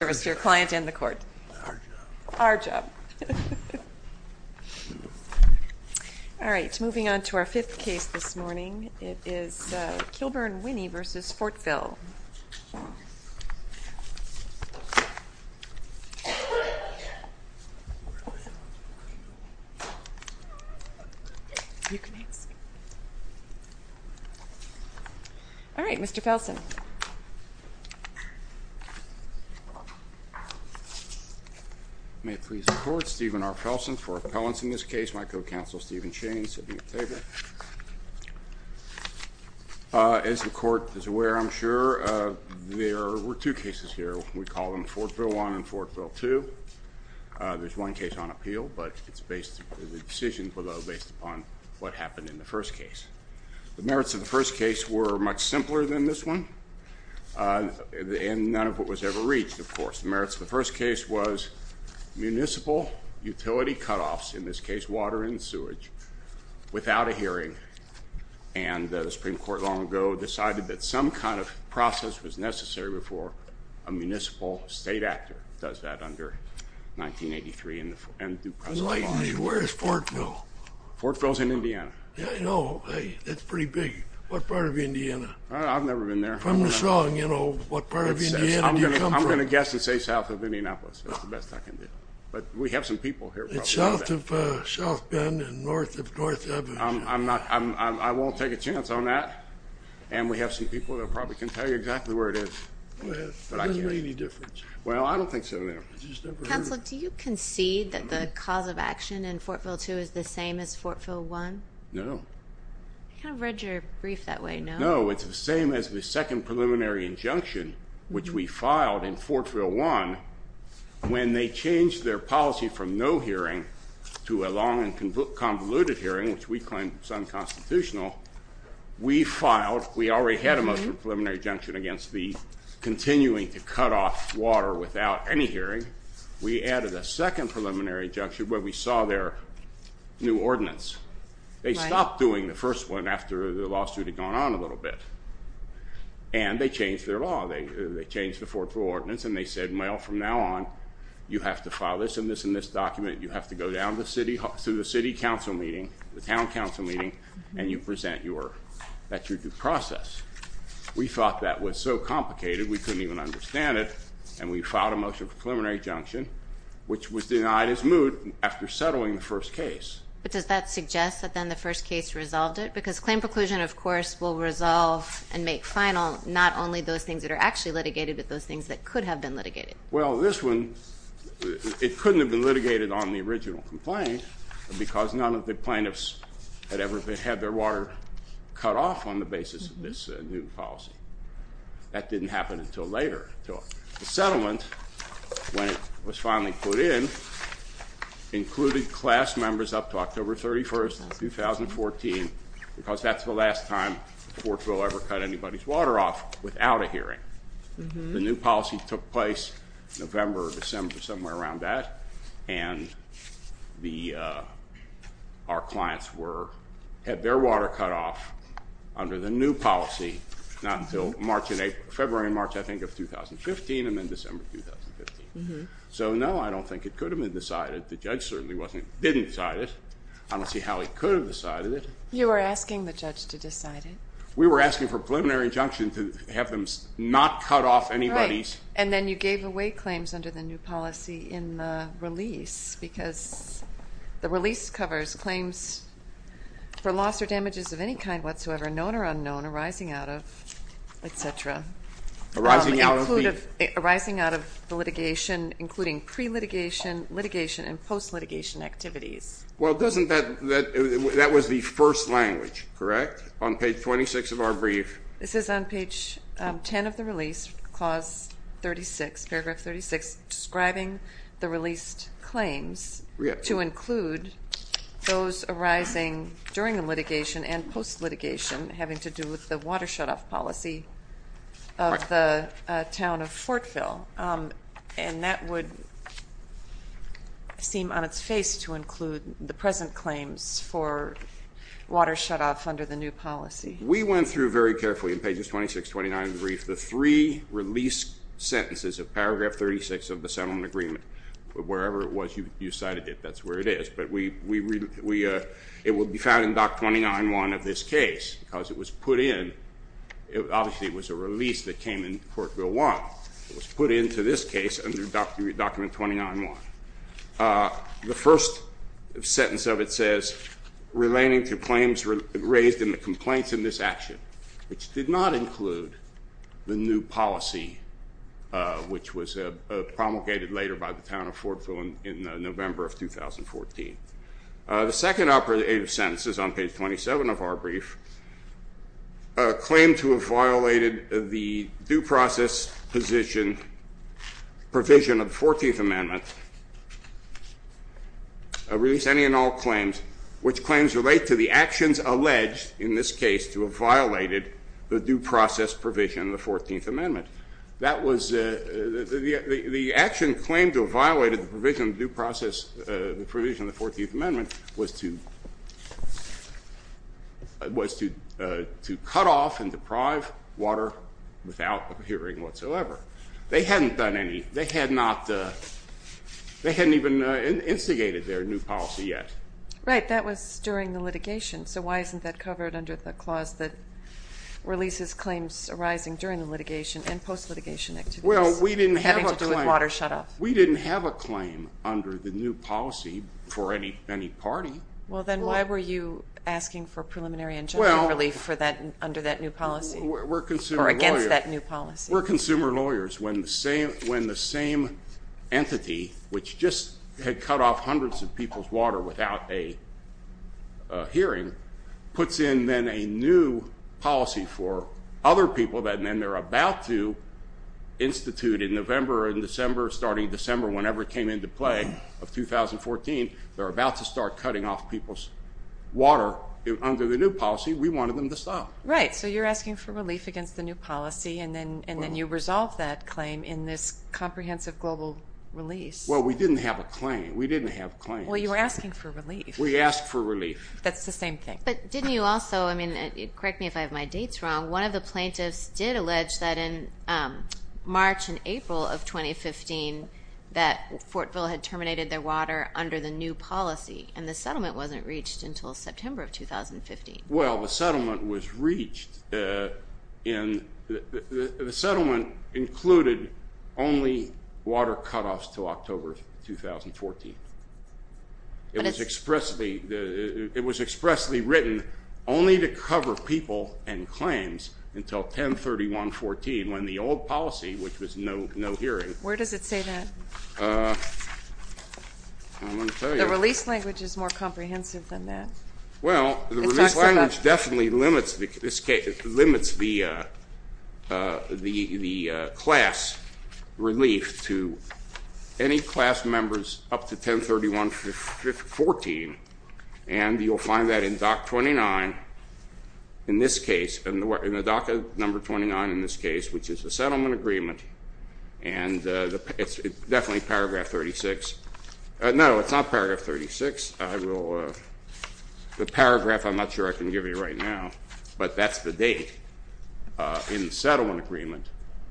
Our job. All right, moving on to our fifth case this morning. It is Kilburn-Winnie v. Fortville. All right, Mr. Felsen. May it please the court, Stephen R. Felsen for appellants in this case, my co-counsel Stephen Shane, sitting in favor. As the court is aware, I'm sure, there were two cases here. We call them Fortville I and Fortville II. There's one case on appeal, but it's based, the decisions were based upon what happened in the first case. The merits of the first case were much simpler than this one, and none of it was ever reached, of course. The merits of the first case was municipal utility cutoffs, in this case water and sewage, without a hearing. And the Supreme Court long ago decided that some kind of process was necessary before a municipal state actor does that under 1983 and due process. Where is Fortville? Fortville is in Indiana. Yeah, I know. Hey, that's pretty big. What part of Indiana? I've never been there. From the song, you know, what part of Indiana do you come from? I'm going to guess and say south of Indianapolis. That's the best I can do. But we have some people here. It's south of South Bend and north of North Avenue. I won't take a chance on that. And we have some people that probably can tell you exactly where it is. Well, it doesn't make any difference. Well, I don't think so, no. Counsel, do you concede that the cause of action in Fortville II is the same as Fortville I? No. I kind of read your brief that way, no? No, it's the same as the second preliminary injunction, which we filed in Fortville I, when they changed their policy from no hearing to a long and convoluted hearing, which we claim is unconstitutional. We filed, we already had a most preliminary injunction against the continuing to cut off water without any hearing. We added a second preliminary injunction where we saw their new ordinance. They stopped doing the first one after the lawsuit had gone on a little bit. And they changed their law. They changed the Fortville ordinance. And they said, well, from now on, you have to file this and this and this document. You have to go down to the city council meeting, the town council meeting, and you present that you're due process. We thought that was so complicated, we couldn't even understand it. And we filed a motion for preliminary injunction, which was denied as moot after settling the first case. But does that suggest that then the first case resolved it? Because claim preclusion, of course, will resolve and make final not only those things that are actually litigated, but those things that could have been litigated. Well, this one, it couldn't have been litigated on the original complaint, because none of the plaintiffs had ever had their water cut off on the basis of this new policy. That didn't happen until later. The settlement, when it was finally put in, included class members up to October 31, 2014, because that's the last time Fortville ever cut anybody's water off without a hearing. The new policy took place November or December, somewhere around that, and our clients had their water cut off under the new policy not until February and March, I think, of 2015, and then December 2015. So, no, I don't think it could have been decided. The judge certainly didn't decide it. I don't see how he could have decided it. You were asking the judge to decide it. We were asking for preliminary injunction to have them not cut off anybody's. Right. And then you gave away claims under the new policy in the release, because the release covers claims for loss or damages of any kind whatsoever, known or unknown, arising out of, et cetera. Arising out of the? Arising out of the litigation, including pre-litigation, litigation, and post-litigation activities. Well, doesn't that ñ that was the first language, correct, on page 26 of our brief? This is on page 10 of the release, clause 36, paragraph 36, describing the released claims to include those arising during the litigation and post-litigation having to do with the water shutoff policy of the town of Fortville. And that would seem on its face to include the present claims for water shutoff under the new policy. We went through very carefully in pages 26, 29 of the brief, the three release sentences of paragraph 36 of the settlement agreement, wherever it was you cited it, that's where it is, but it will be found in Doc 29.1 of this case because it was put in. Obviously, it was a release that came in Fortville 1. It was put into this case under Document 29.1. The first sentence of it says, Relating to claims raised in the complaints in this action, which did not include the new policy, which was promulgated later by the town of Fortville in November of 2014. The second operative sentence is on page 27 of our brief, Claim to have violated the due process position provision of the 14th Amendment. Release any and all claims which claims relate to the actions alleged in this case to have violated the due process provision of the 14th Amendment. The action claimed to have violated the provision of the 14th Amendment was to cut off and deprive water without appearing whatsoever. They hadn't done any. They hadn't even instigated their new policy yet. Right. That was during the litigation, so why isn't that covered under the clause that releases claims arising during litigation and post-litigation activities? Well, we didn't have a claim. Having to do with water shut off. We didn't have a claim under the new policy for any party. Well, then why were you asking for preliminary and judgmental relief under that new policy? We're consumer lawyers. Or against that new policy. We're consumer lawyers. When the same entity, which just had cut off hundreds of people's water without a hearing, puts in then a new policy for other people that then they're about to institute in November and December, starting December, whenever it came into play, of 2014, they're about to start cutting off people's water under the new policy. We wanted them to stop. Right. So you're asking for relief against the new policy, and then you resolve that claim in this comprehensive global release. Well, we didn't have a claim. We didn't have a claim. Well, you were asking for relief. We asked for relief. That's the same thing. But didn't you also, I mean, correct me if I have my dates wrong, one of the plaintiffs did allege that in March and April of 2015, that Fortville had terminated their water under the new policy, and the settlement wasn't reached until September of 2015. Well, the settlement was reached in, the settlement included only water cutoffs until October of 2014. It was expressly written only to cover people and claims until 10-31-14 when the old policy, which was no hearing. Where does it say that? I'm going to tell you. The release language is more comprehensive than that. Well, the release language definitely limits the class relief to any class members up to 10-31-14, and you'll find that in DOC 29 in this case, in the DOC number 29 in this case, which is the settlement agreement, and it's definitely Paragraph 36. No, it's not Paragraph 36. The paragraph I'm not sure I can give you right now, but that's the date in the settlement agreement.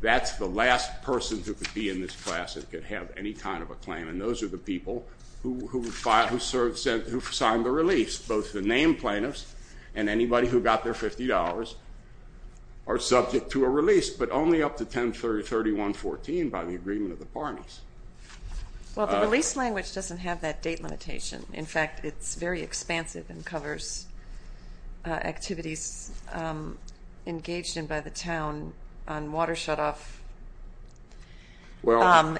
That's the last person who could be in this class that could have any kind of a claim, and those are the people who signed the release. Both the named plaintiffs and anybody who got their $50 are subject to a release, but only up to 10-31-14 by the agreement of the parties. Well, the release language doesn't have that date limitation. In fact, it's very expansive and covers activities engaged in by the town on water shutoff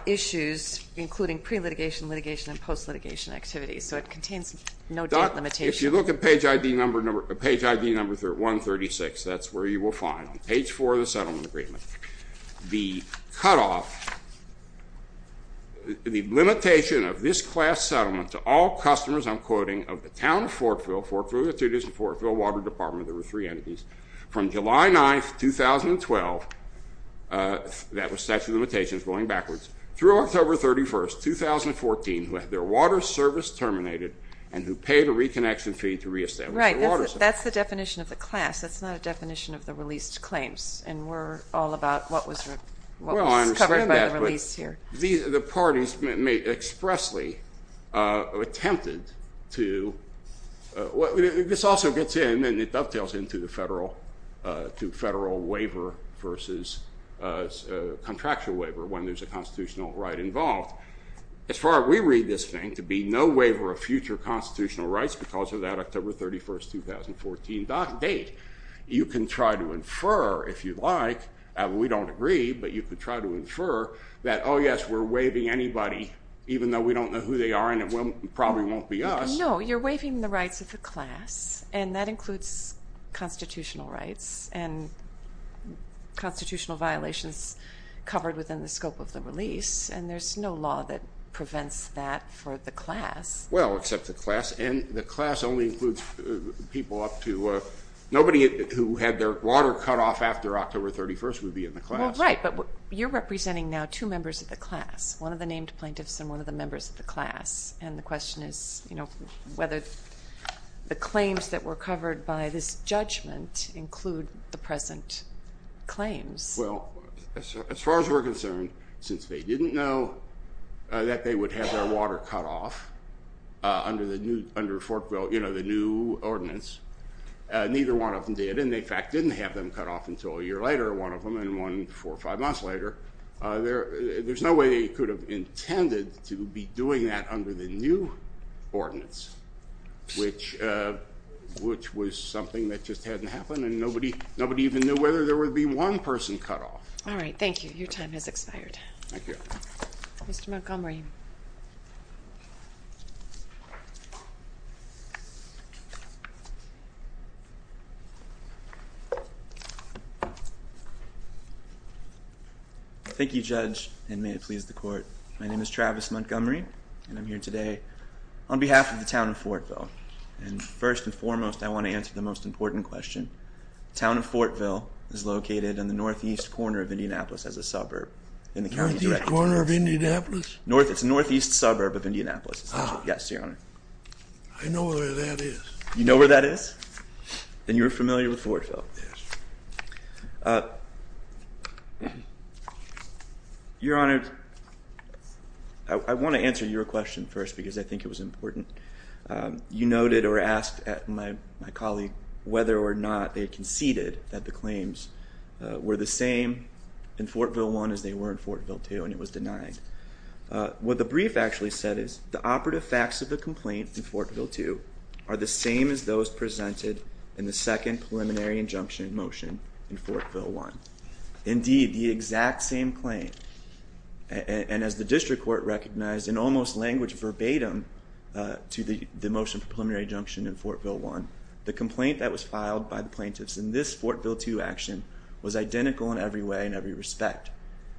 issues, including pre-litigation, litigation, and post-litigation activities, so it contains no date limitation. If you look at page ID number 136, that's where you will find, on page 4 of the settlement agreement, the cutoff, the limitation of this class settlement to all customers, I'm quoting, of the town of Fortville, Fortville Attorneys and Fortville Water Department, there were three entities, from July 9, 2012, that was statute of limitations going backwards, through October 31, 2014, who had their water service terminated and who paid a reconnection fee to reestablish their water service. Right. That's the definition of the class. That's not a definition of the released claims, and we're all about what was covered by the release here. Well, I understand that, but the parties expressly attempted to – this also gets in and it dovetails into the federal waiver versus contractual waiver when there's a constitutional right involved. As far as we read this thing to be no waiver of future constitutional rights because of that October 31, 2014 date, you can try to infer, if you'd like, and we don't agree, but you could try to infer that, oh, yes, we're waiving anybody, even though we don't know who they are and it probably won't be us. No, you're waiving the rights of the class, and that includes constitutional rights and constitutional violations covered within the scope of the release, and there's no law that prevents that for the class. Well, except the class, and the class only includes people up to – nobody who had their water cut off after October 31 would be in the class. Well, right, but you're representing now two members of the class, one of the named plaintiffs and one of the members of the class, and the question is whether the claims that were covered by this judgment include the present claims. Well, as far as we're concerned, since they didn't know that they would have their water cut off under the new ordinance, neither one of them did, and in fact didn't have them cut off until a year later, one of them, and one four or five months later, there's no way they could have intended to be doing that under the new ordinance, which was something that just hadn't happened, and nobody even knew whether there would be one person cut off. All right, thank you. Your time has expired. Thank you. Mr. Montgomery. Thank you, Judge, and may it please the Court. My name is Travis Montgomery, and I'm here today on behalf of the town of Fortville, and first and foremost, I want to answer the most important question. The town of Fortville is located in the northeast corner of Indianapolis as a suburb in the county. Northeast corner of Indianapolis? It's the northeast suburb of Indianapolis. Ah. Yes, Your Honor. I know where that is. You know where that is? Then you're familiar with Fortville. Yes. Your Honor, I want to answer your question first because I think it was important. You noted or asked my colleague whether or not they conceded that the claims were the same in Fortville I as they were in Fortville II, and it was denied. What the brief actually said is, the operative facts of the complaint in Fortville II are the same as those presented in the second preliminary injunction motion in Fortville I. Indeed, the exact same claim, and as the district court recognized in almost language verbatim to the motion for preliminary injunction in Fortville I, the complaint that was filed by the plaintiffs in this Fortville II action was identical in every way and every respect.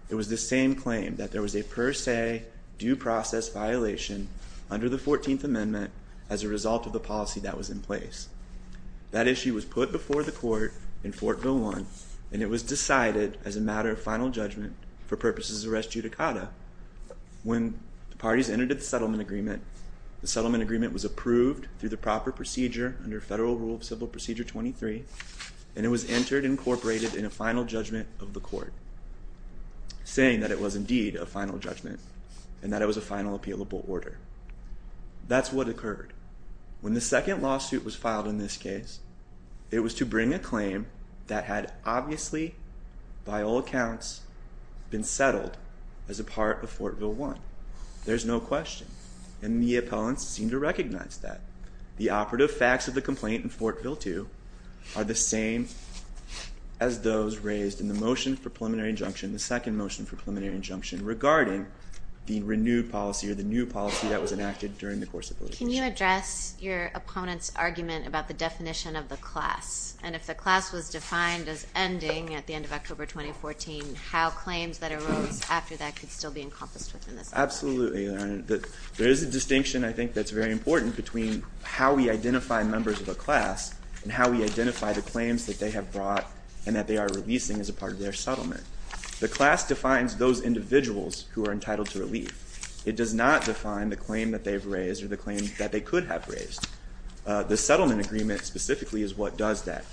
It was the same claim that there was a per se due process violation under the 14th Amendment as a result of the policy that was in place. That issue was put before the court in Fortville I, and it was decided as a matter of final judgment for purposes of res judicata. When the parties entered into the settlement agreement, the settlement agreement was approved through the proper procedure under Federal Rule of Civil Procedure 23, and it was entered and incorporated in a final judgment of the court, saying that it was indeed a final judgment and that it was a final appealable order. That's what occurred. When the second lawsuit was filed in this case, it was to bring a claim that had obviously, by all accounts, been settled as a part of Fortville I. There's no question, and the appellants seem to recognize that. The operative facts of the complaint in Fortville II are the same as those raised in the motion for preliminary injunction, the second motion for preliminary injunction, regarding the renewed policy or the new policy that was enacted during the course of litigation. Can you address your opponent's argument about the definition of the class, and if the class was defined as ending at the end of October 2014, how claims that arose after that could still be encompassed within this argument? Absolutely. There is a distinction, I think, that's very important between how we identify members of a class and how we identify the claims that they have brought and that they are releasing as a part of their settlement. The class defines those individuals who are entitled to relief. It does not define the claim that they've raised or the claim that they could have raised. The settlement agreement specifically is what does that,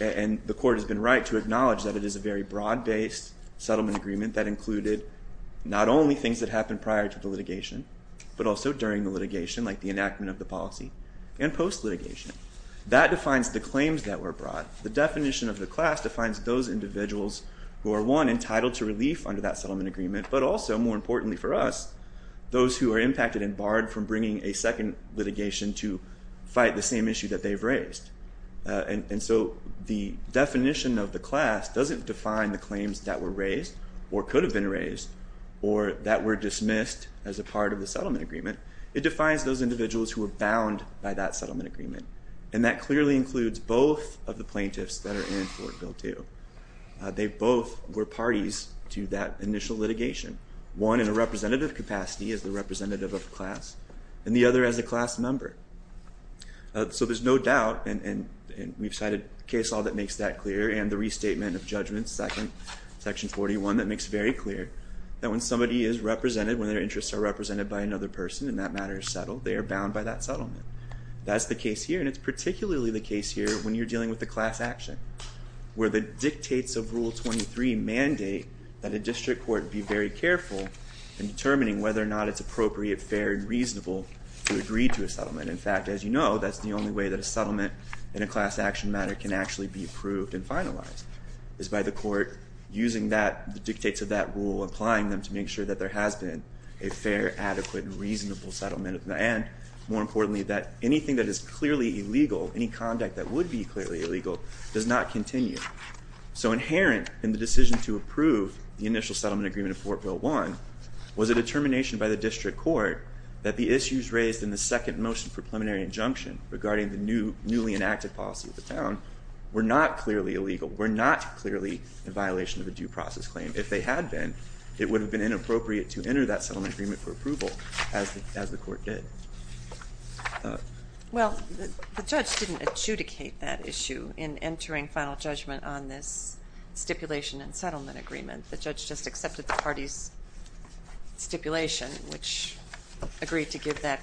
and the court has been right to acknowledge that it is a very broad-based settlement agreement that included not only things that happened prior to the litigation, but also during the litigation, like the enactment of the policy and post-litigation. That defines the claims that were brought. The definition of the class defines those individuals who are, one, entitled to relief under that settlement agreement, but also, more importantly for us, those who are impacted and barred from bringing a second litigation to fight the same issue that they've raised. And so the definition of the class doesn't define the claims that were raised or could have been raised or that were dismissed as a part of the settlement agreement. It defines those individuals who were bound by that settlement agreement, and that clearly includes both of the plaintiffs that are in Fort Bill 2. They both were parties to that initial litigation, one in a representative capacity as the representative of class, and the other as a class member. So there's no doubt, and we've cited a case law that makes that clear and the restatement of judgment, section 41, that makes very clear that when somebody is represented, when their interests are represented by another person and that matter is settled, they are bound by that settlement. That's the case here, and it's particularly the case here when you're dealing with the class action, where the dictates of Rule 23 mandate that a district court be very careful in determining whether or not it's appropriate, fair, and reasonable to agree to a settlement. In fact, as you know, that's the only way that a settlement in a class action matter can actually be approved and finalized, is by the court using the dictates of that rule, applying them to make sure that there has been a fair, adequate, and reasonable settlement. And more importantly, that anything that is clearly illegal, any conduct that would be clearly illegal, does not continue. So inherent in the decision to approve the initial settlement agreement of Fort Will I was a determination by the district court that the issues raised in the second motion for preliminary injunction regarding the newly enacted policy of the town were not clearly illegal, were not clearly in violation of a due process claim. If they had been, it would have been inappropriate to enter that settlement agreement for approval, as the court did. Well, the judge didn't adjudicate that issue in entering final judgment on this stipulation and settlement agreement. The judge just accepted the party's stipulation, which agreed to give that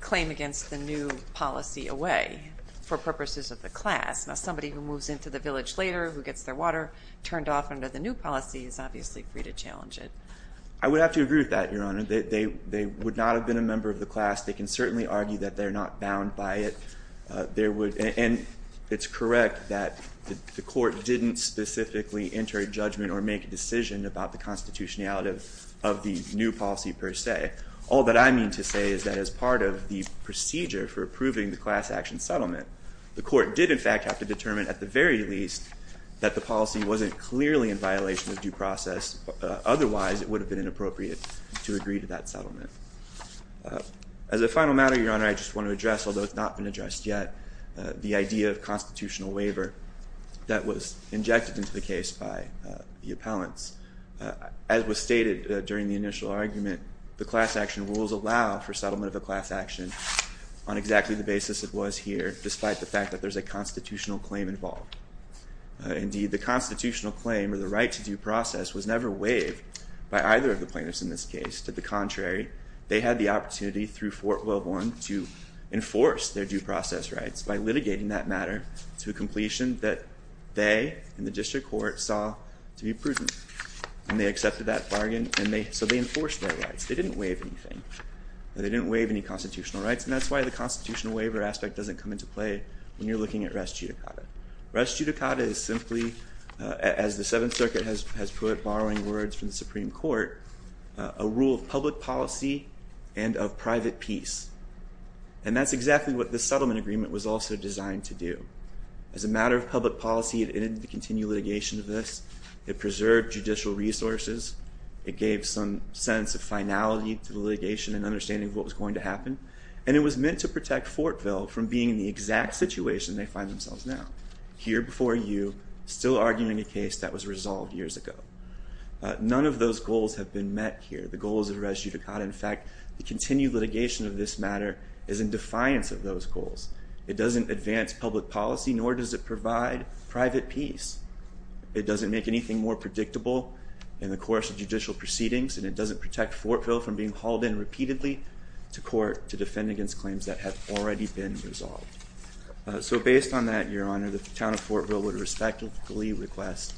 claim against the new policy away for purposes of the class. Now, somebody who moves into the village later, who gets their water turned off under the new policy, is obviously free to challenge it. I would have to agree with that, Your Honor. They would not have been a member of the class. They can certainly argue that they're not bound by it. And it's correct that the court didn't specifically enter a judgment or make a decision about the constitutionality of the new policy per se. All that I mean to say is that as part of the procedure for approving the class action settlement, the court did, in fact, have to determine at the very least that the policy wasn't clearly in violation of due process, otherwise it would have been inappropriate to agree to that settlement. As a final matter, Your Honor, I just want to address, although it's not been addressed yet, the idea of constitutional waiver that was injected into the case by the appellants. As was stated during the initial argument, the class action rules allow for settlement of a class action on exactly the basis it was here, despite the fact that there's a constitutional claim involved. Indeed, the constitutional claim or the right to due process was never waived by either of the plaintiffs in this case. To the contrary, they had the opportunity through Fort Welborn to enforce their due process rights by litigating that matter to a completion that they and the district court saw to be prudent. And they accepted that bargain, so they enforced their rights. They didn't waive anything. They didn't waive any constitutional rights, and that's why the constitutional waiver aspect doesn't come into play when you're looking at res judicata. Res judicata is simply, as the Seventh Circuit has put, borrowing words from the Supreme Court, a rule of public policy and of private peace. And that's exactly what this settlement agreement was also designed to do. As a matter of public policy, it ended the continued litigation of this. It preserved judicial resources. It gave some sense of finality to the litigation and understanding of what was going to happen. And it was meant to protect Fortville from being in the exact situation they find themselves now, here before you, still arguing a case that was resolved years ago. None of those goals have been met here. The goal is res judicata. In fact, the continued litigation of this matter is in defiance of those goals. It doesn't advance public policy, nor does it provide private peace. It doesn't make anything more predictable in the course of judicial proceedings, and it doesn't protect Fortville from being hauled in repeatedly to court to defend against claims that have already been resolved. So based on that, Your Honor, the town of Fortville would respectfully request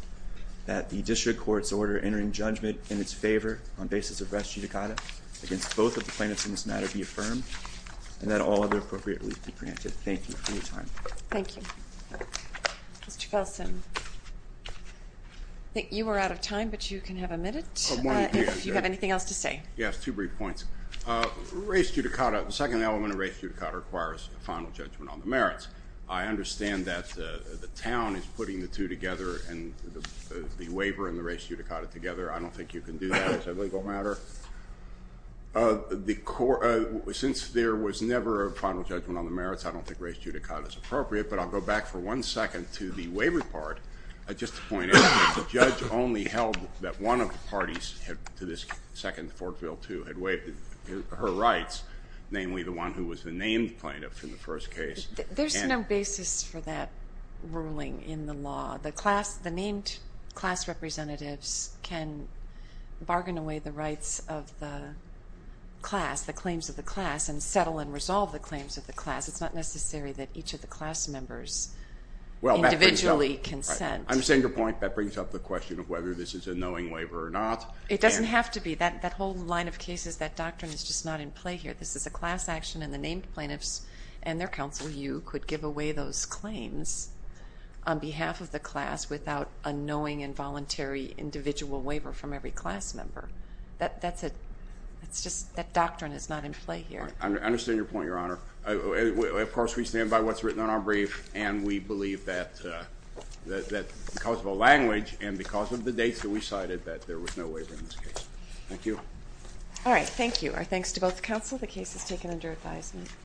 that the district court's order entering judgment in its favor on basis of res judicata against both of the plaintiffs in this matter be affirmed and that all other appropriate relief be granted. Thank you for your time. Thank you. Mr. Felsen, I think you were out of time, but you can have a minute. If you have anything else to say. Yes, two brief points. Res judicata, the second element of res judicata requires a final judgment on the merits. I understand that the town is putting the two together, the waiver and the res judicata together. I don't think you can do that as a legal matter. Since there was never a final judgment on the merits, I don't think res judicata is appropriate, but I'll go back for one second to the waiver part. Just to point out, the judge only held that one of the parties to this second Fortville II had waived her rights, namely the one who was the named plaintiff in the first case. There's no basis for that ruling in the law. The named class representatives can bargain away the rights of the class, the claims of the class, it's not necessary that each of the class members individually consent. I understand your point. That brings up the question of whether this is a knowing waiver or not. It doesn't have to be. That whole line of cases, that doctrine is just not in play here. This is a class action, and the named plaintiffs and their counsel, you, could give away those claims on behalf of the class without a knowing and voluntary individual waiver from every class member. That doctrine is not in play here. I understand your point, Your Honor. Of course, we stand by what's written on our brief, and we believe that because of our language and because of the dates that we cited that there was no waiver in this case. Thank you. All right. Thank you. Our thanks to both counsel. The case is taken under advisement.